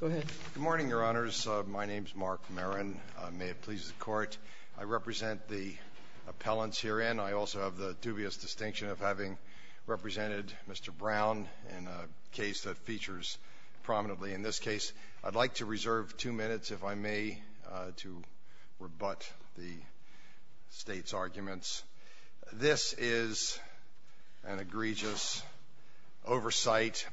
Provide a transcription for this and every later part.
Good morning, Your Honors. My name is Mark Marin. May it please the Court, I represent the appellants herein. I also have the dubious distinction of having represented Mr. Brown in a case that features prominently in this case. I'd like to reserve two minutes, if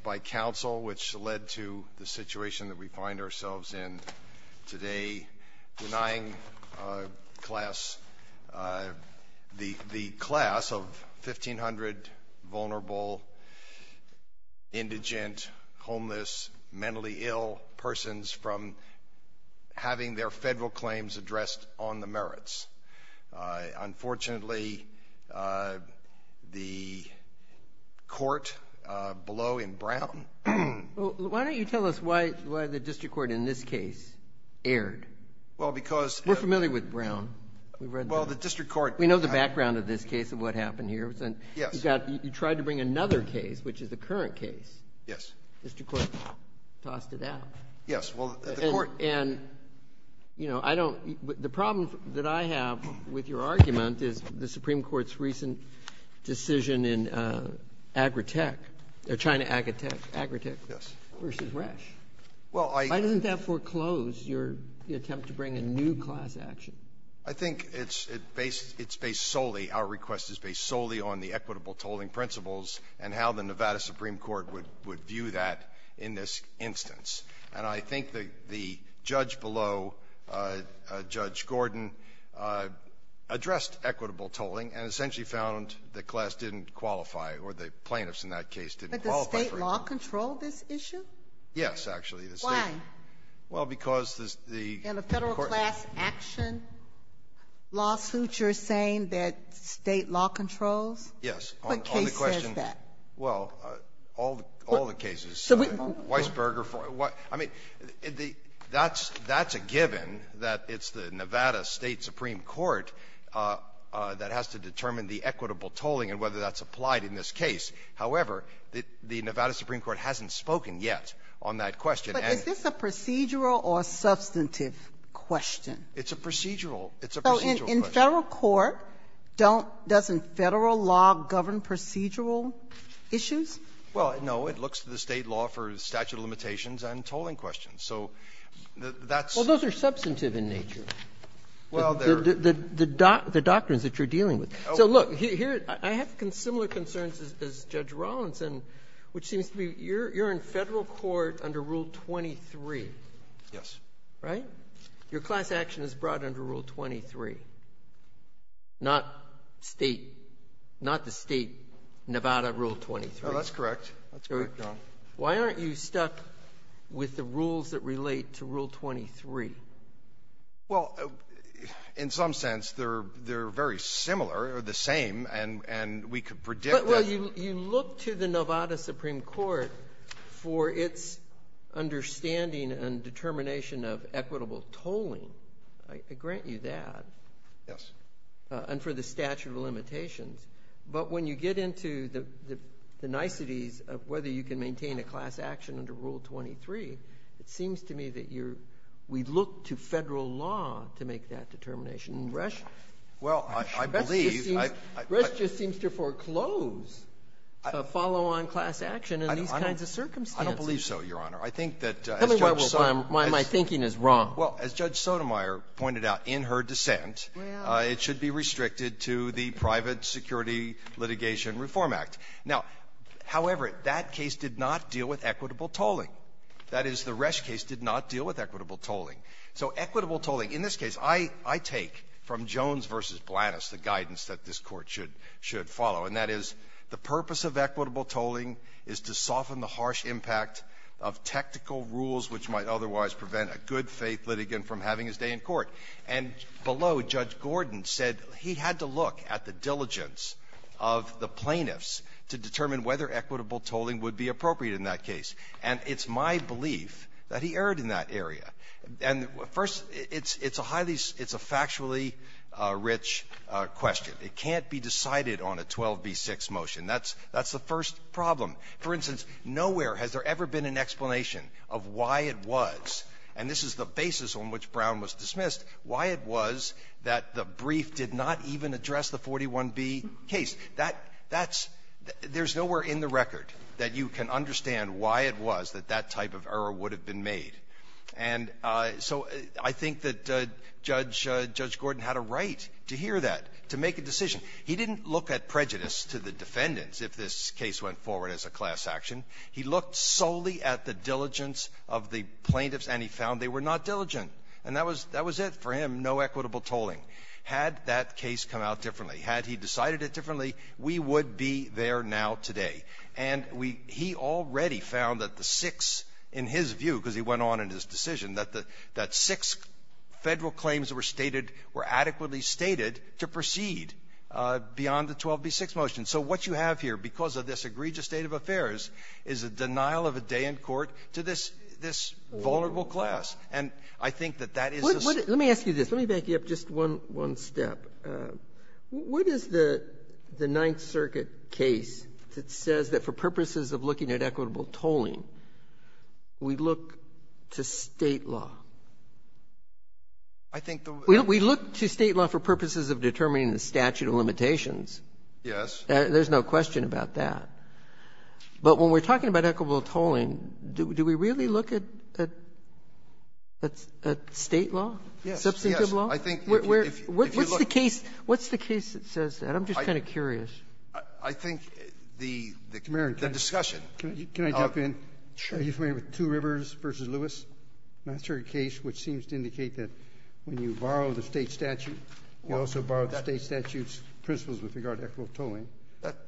by counsel, which led to the situation that we find ourselves in today, denying the class of 1,500 vulnerable, indigent, homeless, mentally ill persons from having their federal claims addressed on the merits. Unfortunately, the court below in Brown... Well, why don't you tell us why the district court in this case erred? Well, because... We're familiar with Brown. We've read the... Well, the district court... We know the background of this case and what happened here. Yes. You tried to bring another case, which is the current case. Yes. District court tossed it out. Yes. Well, the court... And, you know, I don't — the problem that I have with your argument is the Supreme Court's recent decision in Agritech, China Agritech... Yes. ...versus Resch. Well, I... Why doesn't that foreclose your attempt to bring a new class action? I think it's based — it's based solely — our request is based solely on the equitable tolling principles and how the Nevada Supreme Court would view that in this instance. And I think the judge below, Judge Gordon, addressed equitable tolling and essentially found the class didn't qualify, or the plaintiffs in that case didn't qualify... But does state law control this issue? Yes, actually. Why? Well, because the... In a federal class action lawsuit, you're saying that state law controls? Yes. What case says that? On the question — well, all the cases. So we... Weisberger — I mean, that's a given that it's the Nevada State Supreme Court that has to determine the equitable tolling and whether that's applied in this case. However, the Nevada Supreme Court hasn't spoken yet on that question. But is this a procedural or substantive question? It's a procedural. It's a procedural question. So in federal court, don't — doesn't Federal law govern procedural issues? Well, no. It looks to the State law for statute of limitations and tolling questions. So that's... Well, those are substantive in nature. Well, they're... The doctrines that you're dealing with. So, look, here — I have similar concerns as Judge Rawlinson, which seems to be you're in Federal court under Rule 23. Yes. Right? Your class action is brought under Rule 23, not State — not the State Nevada Rule 23. Well, that's correct. That's correct, Your Honor. Why aren't you stuck with the rules that relate to Rule 23? Well, in some sense, they're very similar or the same, and we could predict that... Well, you look to the Nevada Supreme Court for its understanding and determination of equitable tolling. Yes. And for the statute of limitations. But when you get into the niceties of whether you can maintain a class action under Rule 23, it seems to me that you're — we look to Federal law to make that determination. And Resch... Well, I believe... Resch just seems to foreclose a follow-on class action in these kinds of circumstances. I don't believe so, Your Honor. I think that... Tell me why my thinking is wrong. Well, as Judge Sotomayor pointed out in her dissent... Well... ...it should be restricted to the Private Security Litigation Reform Act. Now, however, that case did not deal with equitable tolling. That is, the Resch case did not deal with equitable tolling. So equitable tolling, in this case, I take from Jones v. Blanus the guidance that this Court should follow, and that is the purpose of equitable tolling is to soften the harsh impact of technical rules which might otherwise prevent a good-faith litigant from having his day in court. And below, Judge Gordon said he had to look at the diligence of the plaintiffs to determine whether equitable tolling would be appropriate in that case. And it's my belief that he erred in that area. And first, it's a highly — it's a factually rich question. It can't be decided on a 12b6 motion. That's the first problem. For instance, nowhere has there ever been an explanation of why it was, and this is the basis on which Brown was dismissed, why it was that the brief did not even address the 41b case. That's — there's nowhere in the record that you can understand why it was that that type of error would have been made. And so I think that Judge — Judge Gordon had a right to hear that, to make a decision. He didn't look at prejudice to the defendants if this case went forward as a class action. He looked solely at the diligence of the plaintiffs, and he found they were not diligent. And that was — that was it for him, no equitable tolling. Had that case come out differently, had he decided it differently, we would be there now today. And we — he already found that the six, in his view, because he went on in his decision, that the — that six Federal claims were stated — were adequately stated to proceed beyond the 12b6 motion. So what you have here, because of this egregious state of affairs, is a denial of a day in court to this — this vulnerable class. And I think that that is the — Sotomayor, let me ask you this. Let me back you up just one — one step. What is the Ninth Circuit case that says that for purposes of looking at equitable tolling, we look to State law? I think the — We look to State law for purposes of determining the statute of limitations. Yes. There's no question about that. But when we're talking about equitable tolling, do we really look at — at State law? Yes. Substantive law? Yes. Yes. I think if you — if you look — What's the case — what's the case that says that? I'm just kind of curious. I think the — the discussion — Are you familiar with Two Rivers v. Lewis? Ninth Circuit case, which seems to indicate that when you borrow the State statute, you also borrow the State statute's principles with regard to equitable tolling.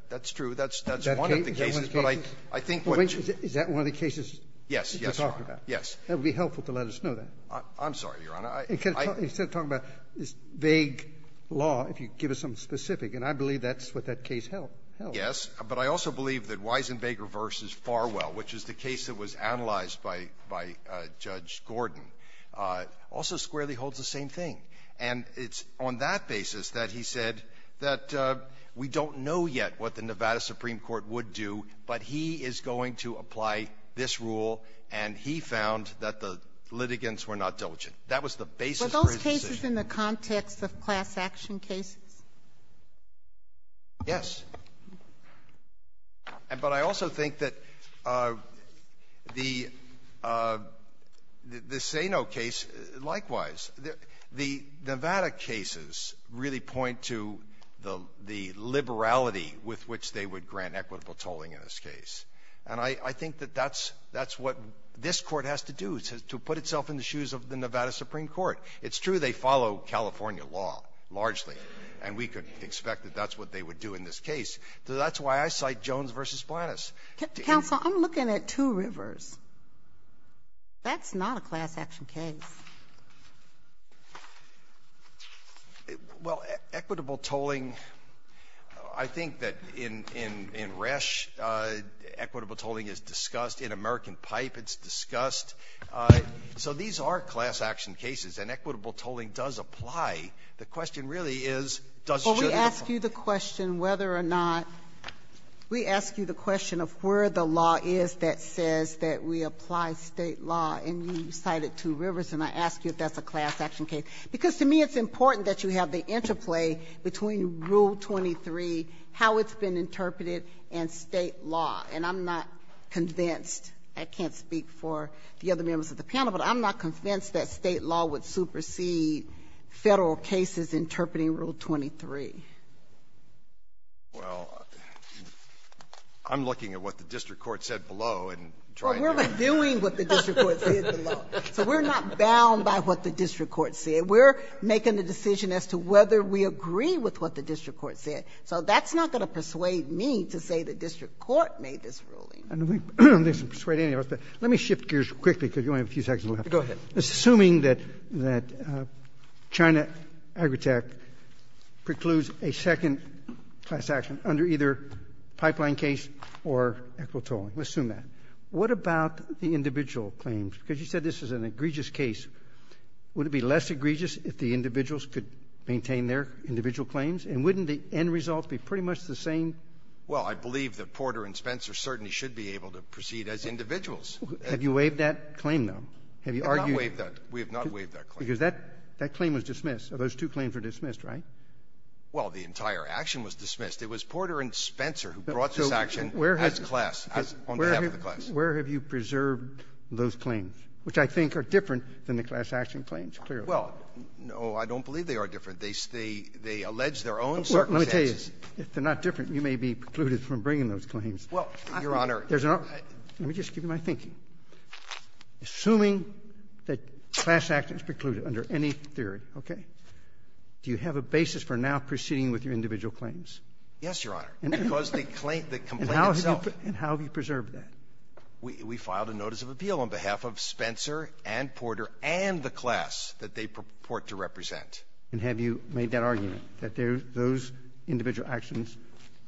That's true. That's — that's one of the cases. Is that one of the cases? But I — I think what you — Is that one of the cases that we're talking about? Yes. Yes, Your Honor. Yes. That would be helpful to let us know that. I'm sorry, Your Honor. I — Instead of talking about this vague law, if you give us something specific. And I believe that's what that case held. Yes. But I also believe that Wiesenbaker v. Farwell, which is the case that was analyzed by — by Judge Gordon, also squarely holds the same thing. And it's on that basis that he said that we don't know yet what the Nevada supreme court would do, but he is going to apply this rule, and he found that the litigants were not diligent. That was the basis for his decision. Were those cases in the context of class-action cases? Yes. But I also think that the — the Sano case, likewise, the Nevada cases really point to the — the liberality with which they would grant equitable tolling in this case. And I — I think that that's — that's what this Court has to do, to put itself in the shoes of the Nevada supreme court. It's true they follow California law, largely. And we could expect that that's what they would do in this case. So that's why I cite Jones v. Splanus. Counsel, I'm looking at two rivers. That's not a class-action case. Well, equitable tolling, I think that in — in Resch, equitable tolling is discussed. In American Pipe, it's discussed. So these are class-action cases, and equitable tolling does apply. The question really is, does it? Well, we ask you the question whether or not — we ask you the question of where the law is that says that we apply state law. And you cited two rivers, and I ask you if that's a class-action case. Because to me, it's important that you have the interplay between Rule 23, how it's been interpreted, and state law. And I'm not convinced — I can't speak for the other members of the panel, but I'm not convinced that state law would supersede Federal cases interpreting Rule 23. Well, I'm looking at what the district court said below and trying to — Well, we're reviewing what the district court said below. So we're not bound by what the district court said. We're making a decision as to whether we agree with what the district court said. So that's not going to persuade me to say the district court made this ruling. I don't think it's going to persuade any of us. But let me shift gears quickly, because we only have a few seconds left. Go ahead. Assuming that — that China Agritech precludes a second class action under either pipeline case or equitoling, let's assume that, what about the individual claims? Because you said this is an egregious case. Would it be less egregious if the individuals could maintain their individual claims? And wouldn't the end result be pretty much the same? Well, I believe that Porter and Spencer certainly should be able to proceed as individuals. Have you waived that claim, though? Have you argued — We have not waived that. We have not waived that claim. Because that claim was dismissed. Those two claims were dismissed, right? Well, the entire action was dismissed. It was Porter and Spencer who brought this action as class, on behalf of the class. Where have you preserved those claims, which I think are different than the class action claims, clearly? Well, no, I don't believe they are different. They stay — they allege their own circumstances. Well, let me tell you, if they're not different, you may be precluded from bringing those claims. Well, Your Honor — There's no — let me just give you my thinking. Assuming that class action is precluded under any theory, okay, do you have a basis for now proceeding with your individual claims? Yes, Your Honor, because the claim — the complaint itself — And how have you preserved that? We filed a notice of appeal on behalf of Spencer and Porter and the class that they purport to represent. And have you made that argument, that those individual actions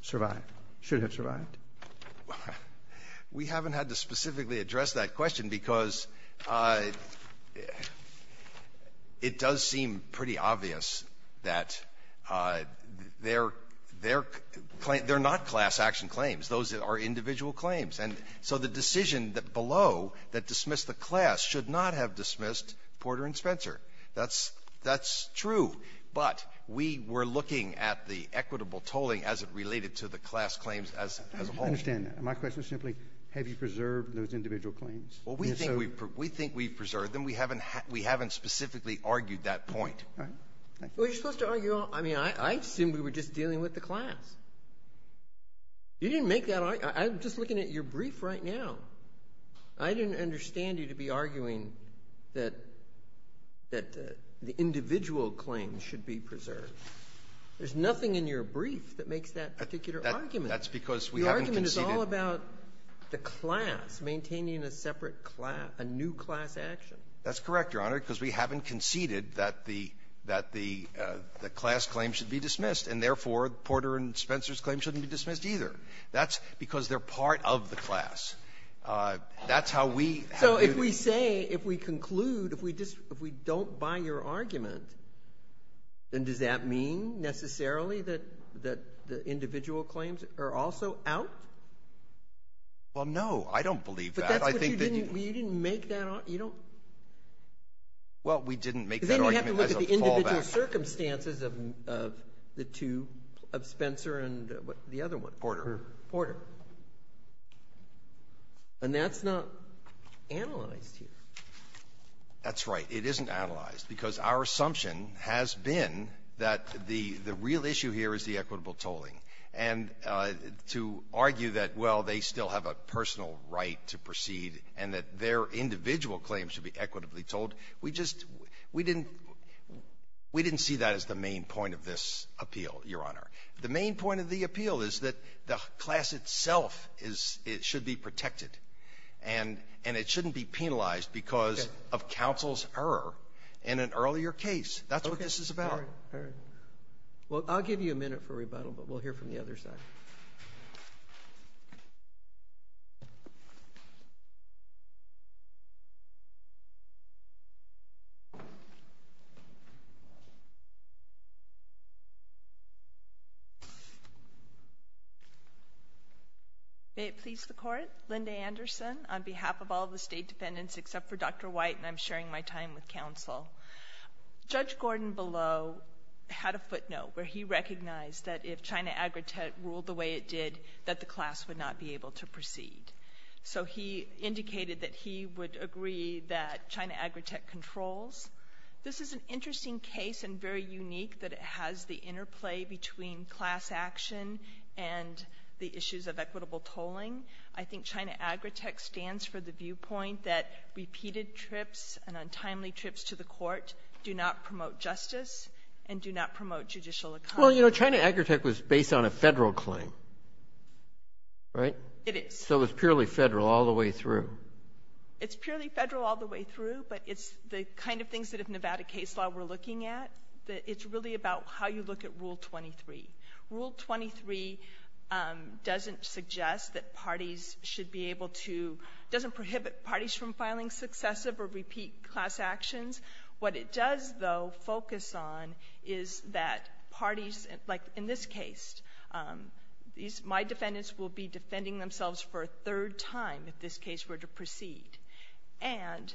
survived, should have survived? We haven't had to specifically address that question because it does seem pretty obvious that they're — they're — they're not class action claims. Those are individual claims. And so the decision below that dismissed the class should not have dismissed Porter and Spencer. That's — that's true. But we were looking at the equitable tolling as it related to the class claims as a whole. I understand that. My question is simply, have you preserved those individual claims? Well, we think we've — we think we've preserved them. We haven't — we haven't specifically argued that point. All right. Thank you. Well, you're supposed to argue all — I mean, I assume we were just dealing with the class. You didn't make that — I'm just looking at your brief right now. I didn't understand you to be arguing that — that the individual claims should be preserved. There's nothing in your brief that makes that particular argument. That's because we haven't conceded — The argument is all about the class, maintaining a separate class — a new class action. That's correct, Your Honor, because we haven't conceded that the — that the class claims should be dismissed, and therefore, Porter and Spencer's claims shouldn't be dismissed either. That's because they're part of the class. That's how we — So if we say — if we conclude — if we don't buy your argument, then does that mean, necessarily, that — that the individual claims are also out? Well, no, I don't believe that. I think that you — But that's what you didn't — you didn't make that — you don't — Well, we didn't make that argument as a fallback. Because then you have to look at the individual circumstances of — of the two — of Spencer and the other one. Porter. Porter. And that's not analyzed here. That's right. It isn't analyzed, because our assumption has been that the — the real issue here is the equitable tolling. And to argue that, well, they still have a personal right to proceed, and that their individual claims should be equitably tolled, we just — we didn't — we didn't see that as the main point of this appeal, Your Honor. The main point of the appeal is that the class itself is — should be protected. And — and it shouldn't be penalized because of counsel's error in an earlier case. That's what this is about. All right. Well, I'll give you a minute for rebuttal, but we'll hear from the other side. May it please the Court? Linda Anderson, on behalf of all the state defendants except for Dr. White, and I'm sharing my time with counsel. Judge Gordon Below had a footnote where he recognized that if China Agritech ruled the way it did, that the class would not be able to proceed. So he indicated that he would agree that China Agritech controls. This is an interesting case and very unique that it has the interplay between class action and the issues of equitable tolling. I think China Agritech stands for the viewpoint that repeated trips and untimely trips to the court do not promote justice and do not promote judicial accountability. Well, you know, China Agritech was based on a federal claim, right? It is. So it's purely federal all the way through. It's purely federal all the way through, but it's the kind of things that if Nevada case law we're looking at, that it's really about how you look at Rule 23. Rule 23 doesn't suggest that parties should be able to, doesn't prohibit parties from filing successive or repeat class actions. What it does, though, focus on is that parties, like in this case, my defendants will be defending themselves for a third time if this case were to proceed, and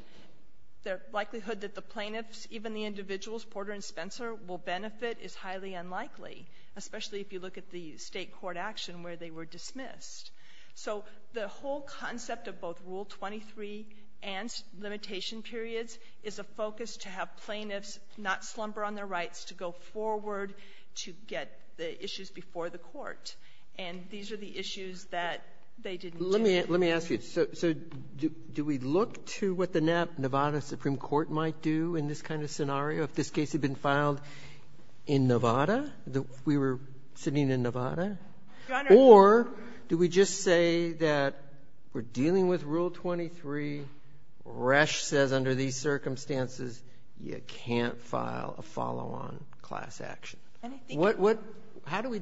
the likelihood that the plaintiffs, even the individuals, Porter and Spencer, will benefit is highly unlikely, especially if you look at the state court action where they were dismissed. So the whole concept of both Rule 23 and limitation periods is a focus to have plaintiffs not slumber on their rights, to go forward, to get the issues before the court. And these are the issues that they didn't get. Let me ask you, so do we look to what the Nevada Supreme Court might do in this kind of scenario, if this case had been filed in Nevada, if we were sitting in Nevada? Or do we just say that we're dealing with Rule 23, Resch says under these circumstances, you can't file a follow-on class action? How do we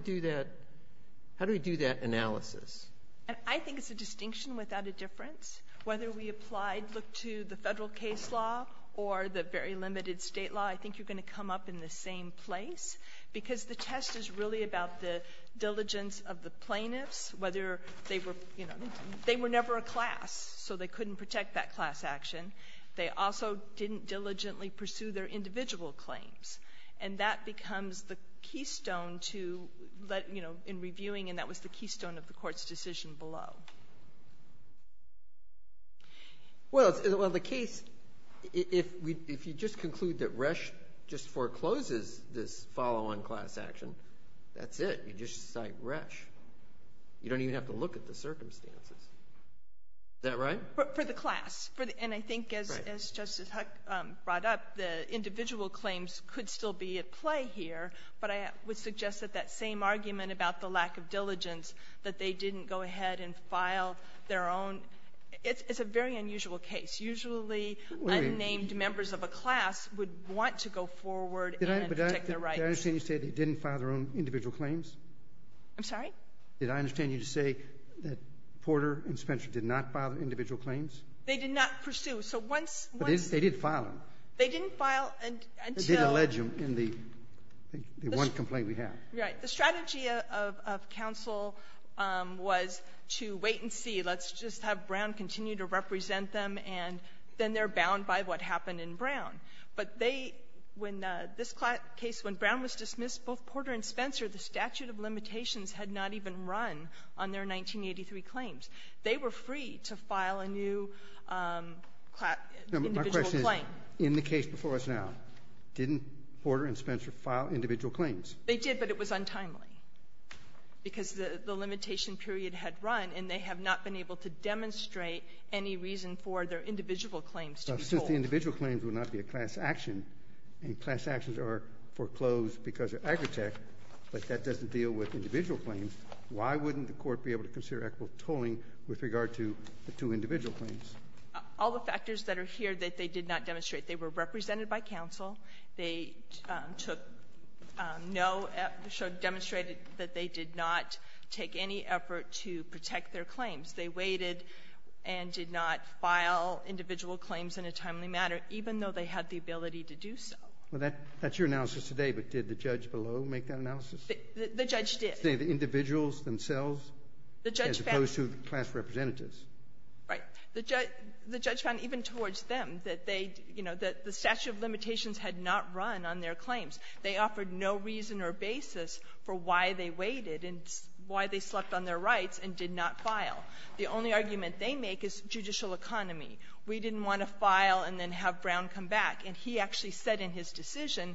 do that analysis? And I think it's a distinction without a difference. Whether we applied, look to the federal case law or the very limited state law, I think you're going to come up in the same place. Because the test is really about the diligence of the plaintiffs, whether they were never a class, so they couldn't protect that class action. They also didn't diligently pursue their individual claims. And that becomes the keystone in reviewing, and that was the keystone of the court's decision below. Well, the case, if you just conclude that Resch just forecloses this follow-on class action, that's it. You just cite Resch, you don't even have to look at the circumstances, is that right? But for the class, and I think as Justice Huck brought up, the individual claims could still be at play here. But I would suggest that that same argument about the lack of diligence, that they didn't go ahead and file their own. It's a very unusual case. Usually, unnamed members of a class would want to go forward and protect their rights. Did I understand you to say they didn't file their own individual claims? I'm sorry? Did I understand you to say that Porter and Spencer did not file individual claims? They did not pursue, so once- But they did file them. They didn't file until- They did allege them in the one complaint we have. Right. The strategy of counsel was to wait and see. Let's just have Brown continue to represent them, and then they're bound by what happened in Brown. But they, when this case, when Brown was dismissed, both Porter and Spencer, the statute of limitations, had not even run on their 1983 claims. They were free to file a new individual claim. No, but my question is, in the case before us now, didn't Porter and Spencer file individual claims? They did, but it was untimely because the limitation period had run, and they have not been able to demonstrate any reason for their individual claims to be told. Since the individual claims would not be a class action, and class actions are foreclosed because they're agritech, but that doesn't deal with individual claims, why wouldn't the court be able to consider equitable tolling with regard to the two individual claims? All the factors that are here that they did not demonstrate. They were represented by counsel. They took no to demonstrate that they did not take any effort to protect their claims. They waited and did not file individual claims in a timely manner, even though they had the ability to do so. Well, that's your analysis today, but did the judge below make that analysis? The judge did. The individuals themselves? The judge found them. As opposed to the class representatives. Right. The judge found even towards them that they, you know, that the statute of limitations had not run on their claims. They offered no reason or basis for why they waited and why they slept on their rights and did not file. The only argument they make is judicial economy. We didn't want to file and then have Brown come back, and he actually said in his decision,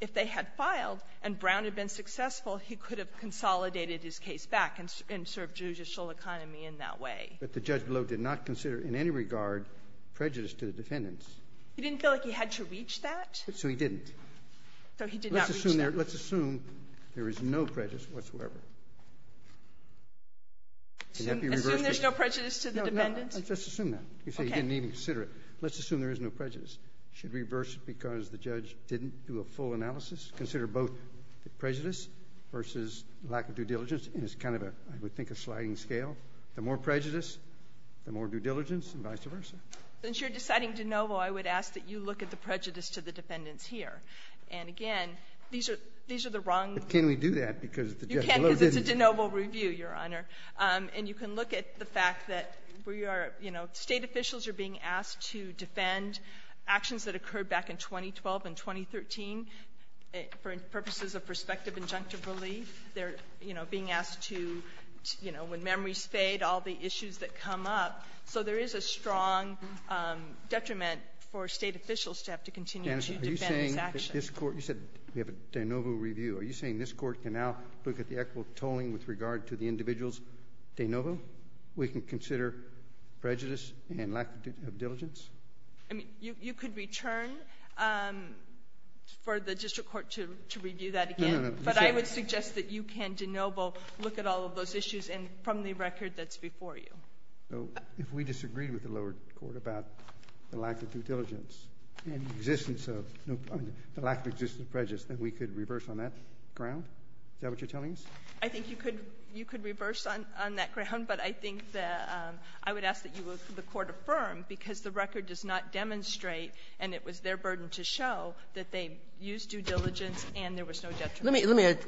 if they had filed and Brown had been successful, he could have consolidated his case back and served judicial economy in that way. But the judge below did not consider in any regard prejudice to the defendants. He didn't feel like he had to reach that? So he didn't. So he did not reach that. Let's assume there is no prejudice whatsoever. Assume there's no prejudice to the defendants? No, no, let's just assume that. You say he didn't even consider it. Let's assume there is no prejudice. Should reverse it because the judge didn't do a full analysis? Consider both the prejudice versus lack of due diligence, and it's kind of a, I would think, a sliding scale. The more prejudice, the more due diligence, and vice versa. Since you're deciding de novo, I would ask that you look at the prejudice to the defendants here. And again, these are the wrong- But can we do that because the judge below didn't? You can because it's a de novo review, Your Honor. And you can look at the fact that state officials are being asked to defend actions that occurred back in 2012 and 2013 for purposes of prospective injunctive relief. They're being asked to, when memories fade, all the issues that come up. So there is a strong detriment for state officials to have to continue to defend this action. You said we have a de novo review. Are you saying this court can now look at the equitable tolling with regard to the individuals de novo? We can consider prejudice and lack of diligence? I mean, you could return for the district court to review that again. But I would suggest that you can de novo look at all of those issues and from the record that's before you. If we disagreed with the lower court about the lack of due diligence, and the lack of existence of prejudice, then we could reverse on that ground? Is that what you're telling us? I think you could reverse on that ground, but I think that I would ask that the court affirm, because the record does not demonstrate, and it was their burden to show, that they used due diligence and there was no detriment. Let me ask,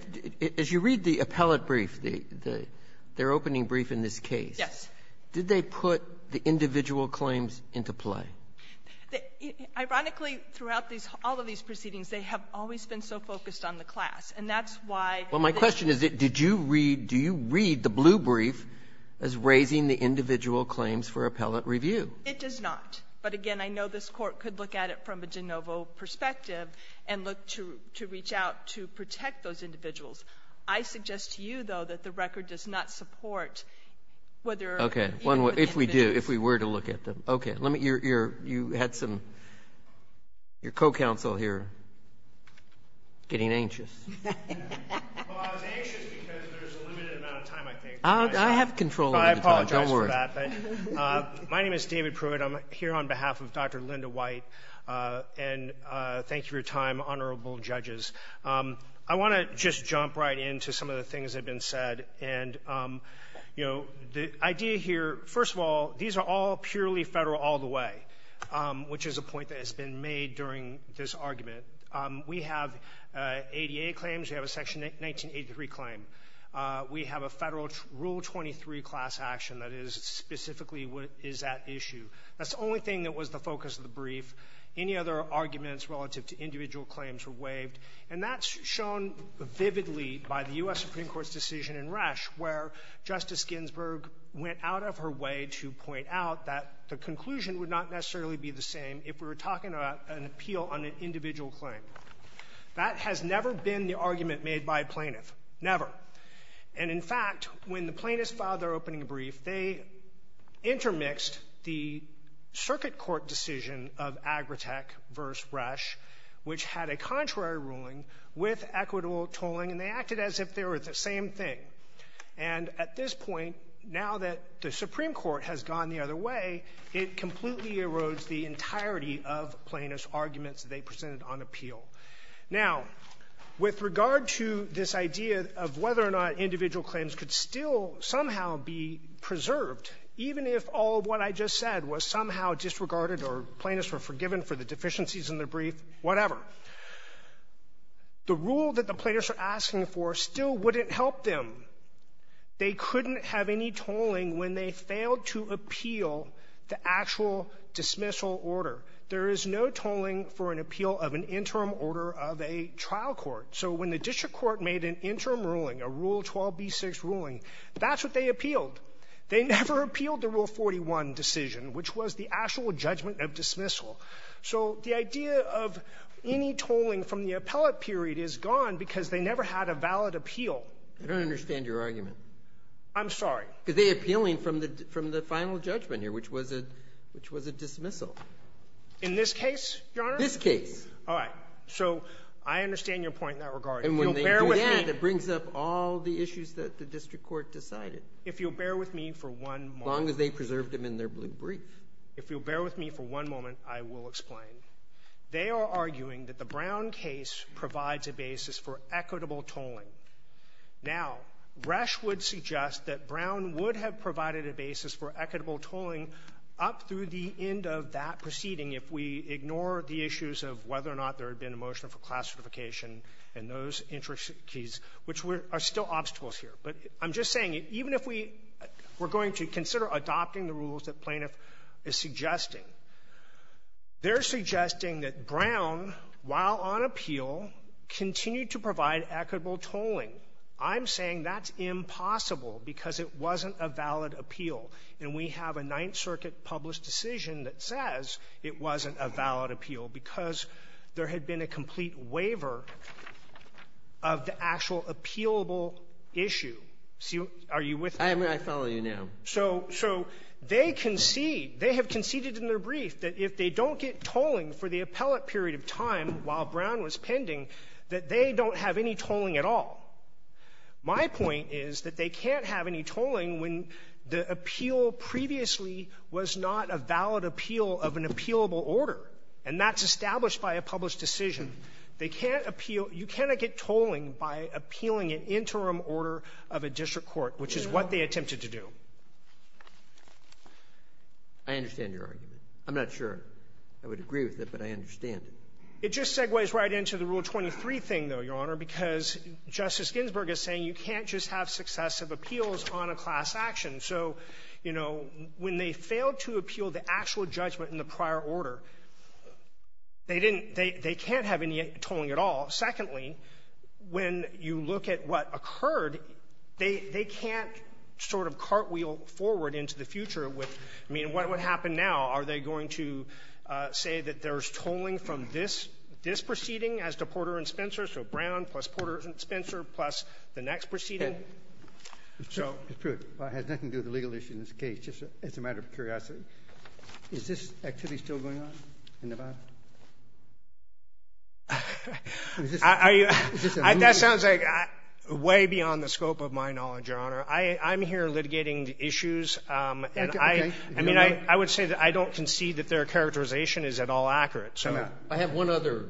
as you read the appellate brief, their opening brief in this case, did they put the individual claims into play? Ironically, throughout all of these proceedings, they have always been so focused on the class, and that's why they didn't do it. Well, my question is, did you read, do you read the blue brief as raising the individual claims for appellate review? It does not. But again, I know this court could look at it from a de novo perspective and look to reach out to protect those individuals. I suggest to you, though, that the record does not support whether- Okay, if we do, if we were to look at them. Okay, let me, you had some, your co-counsel here getting anxious. Well, I was anxious because there's a limited amount of time, I think. I have control over the time, don't worry. I apologize for that. My name is David Pruitt, I'm here on behalf of Dr. Linda White, and thank you for your time, honorable judges. I want to just jump right into some of the things that have been said, and the idea here, first of all, these are all purely federal all the way, which is a point that has been made during this argument. We have ADA claims, we have a section 1983 claim. We have a federal Rule 23 class action that is specifically what is at issue. That's the only thing that was the focus of the brief. Any other arguments relative to individual claims were waived, and that's shown vividly by the US Supreme Court's decision in Resch, where Justice Ginsburg went out of her way to point out that the conclusion would not necessarily be the same if we were talking about an appeal on an individual claim. That has never been the argument made by a plaintiff. Never. And in fact, when the plaintiffs filed their opening brief, they intermixed the circuit court decision of Agritech versus Resch, which had a contrary ruling with equitable tolling, and they acted as if they were the same thing. And at this point, now that the Supreme Court has gone the other way, it completely erodes the entirety of plaintiff's arguments that they presented on appeal. Now, with regard to this idea of whether or not individual claims could still somehow be preserved, even if all of what I just said was somehow disregarded or plaintiffs were forgiven for the deficiencies in the brief, whatever, the rule that the plaintiffs are asking for still wouldn't help them. They couldn't have any tolling when they failed to appeal the actual dismissal order. There is no tolling for an appeal of an interim order of a trial court. So when the district court made an interim ruling, a Rule 12b6 ruling, that's what they appealed. They never appealed the Rule 41 decision, which was the actual judgment of dismissal. So the idea of any tolling from the appellate period is gone because they never had a valid appeal. Breyer. I don't understand your argument. I'm sorry. Because they're appealing from the final judgment here, which was a dismissal. In this case, Your Honor? This case. All right. So I understand your point in that regard. And when they do that, it brings up all the issues that the district court decided. If you'll bear with me for one moment. As long as they preserved them in their blue brief. If you'll bear with me for one moment, I will explain. They are arguing that the Brown case provides a basis for equitable tolling. Now, Resch would suggest that Brown would have provided a basis for equitable tolling. I'm saying that's impossible because it wasn't a valid appeal. And we have a Ninth Circuit published decision that says that Brown, while on appeal, continued to provide equitable tolling. I'm saying that's impossible because it wasn't a valid appeal. And we have a Ninth Circuit published decision that says that Brown, while on appeal, continued to provide equitable tolling. I'm saying that's impossible because it wasn't a valid appeal, because there had been a complete waiver of the actual appealable issue. Are you with me? I follow you now. So they concede, they have conceded in their brief that if they don't get tolling for the appellate period of time while Brown was pending, that they don't have any tolling at all. My point is that they can't have any tolling when the appeal previously was not a valid appeal of an appealable order, and that's established by a published decision. They can't appeal — you cannot get tolling by appealing an interim order of a district court, which is what they attempted to do. I understand your argument. I'm not sure I would agree with it, but I understand it. It just segues right into the Rule 23 thing, though, Your Honor, because Justice Ginsburg is saying you can't just have successive appeals on a class action. So, you know, when they failed to appeal the actual judgment in the prior order, they didn't — they can't have any tolling at all. Secondly, when you look at what occurred, they can't sort of cartwheel forward into the future with — I mean, what would happen now? Are they going to say that there's tolling from this proceeding as to Porter and Spencer, so Brown plus Porter and Spencer plus the next proceeding? Mr. Pruitt, while it has nothing to do with the legal issue in this case, just as a matter of curiosity, is this activity still going on in Nevada? I — that sounds like way beyond the scope of my knowledge, Your Honor. I'm here litigating the issues, and I — Okay. I don't see that their characterization is at all accurate. So I have one other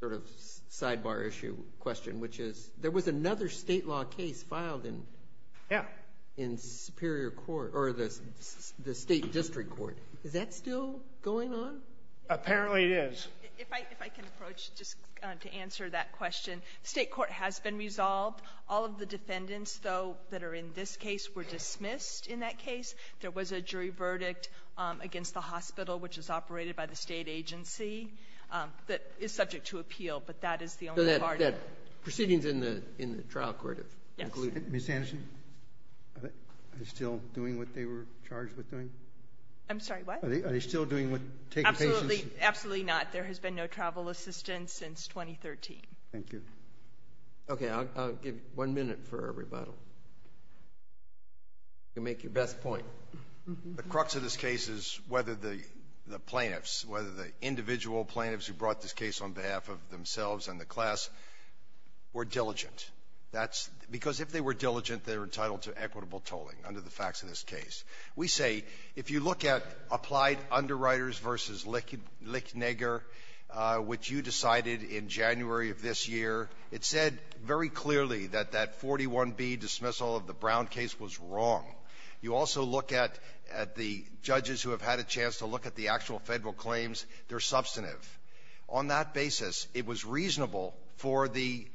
sort of sidebar issue question, which is there was another State law case filed in — Yeah. — in Superior Court — or the State district court. Is that still going on? Apparently, it is. If I — if I can approach just to answer that question. State court has been resolved. All of the defendants, though, that are in this case were dismissed in that case. There was a jury verdict against the hospital, which is operated by the State agency, that is subject to appeal, but that is the only part — So that proceeding is in the trial court of — Yes. Ms. Anderson, are they still doing what they were charged with doing? I'm sorry, what? Are they still doing what — taking patients? Absolutely not. There has been no travel assistance since 2013. Thank you. Okay. I'll give one minute for a rebuttal. You can make your best point. The crux of this case is whether the — the plaintiffs, whether the individual plaintiffs who brought this case on behalf of themselves and the class were diligent. That's — because if they were diligent, they were entitled to equitable tolling, under the facts of this case. We say, if you look at applied underwriters versus Licknegger, which you decided in January of this year, it said very clearly that that 41B dismissal of the Brown case was wrong. You also look at the judges who have had a chance to look at the actual federal claims. They're substantive. On that basis, it was reasonable for the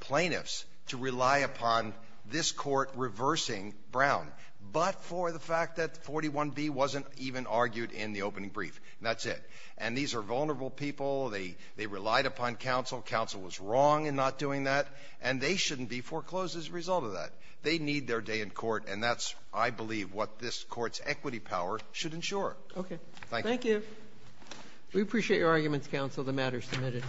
plaintiffs to rely upon this court reversing Brown, but for the fact that 41B wasn't even argued in the opening brief. That's it. And these are vulnerable people. They relied upon counsel. Counsel was wrong in not doing that, and they shouldn't be foreclosed as a result of that. They need their day in court, and that's, I believe, what this court's equity power should ensure. Okay. Thank you. We appreciate your arguments, counsel. The matter is submitted.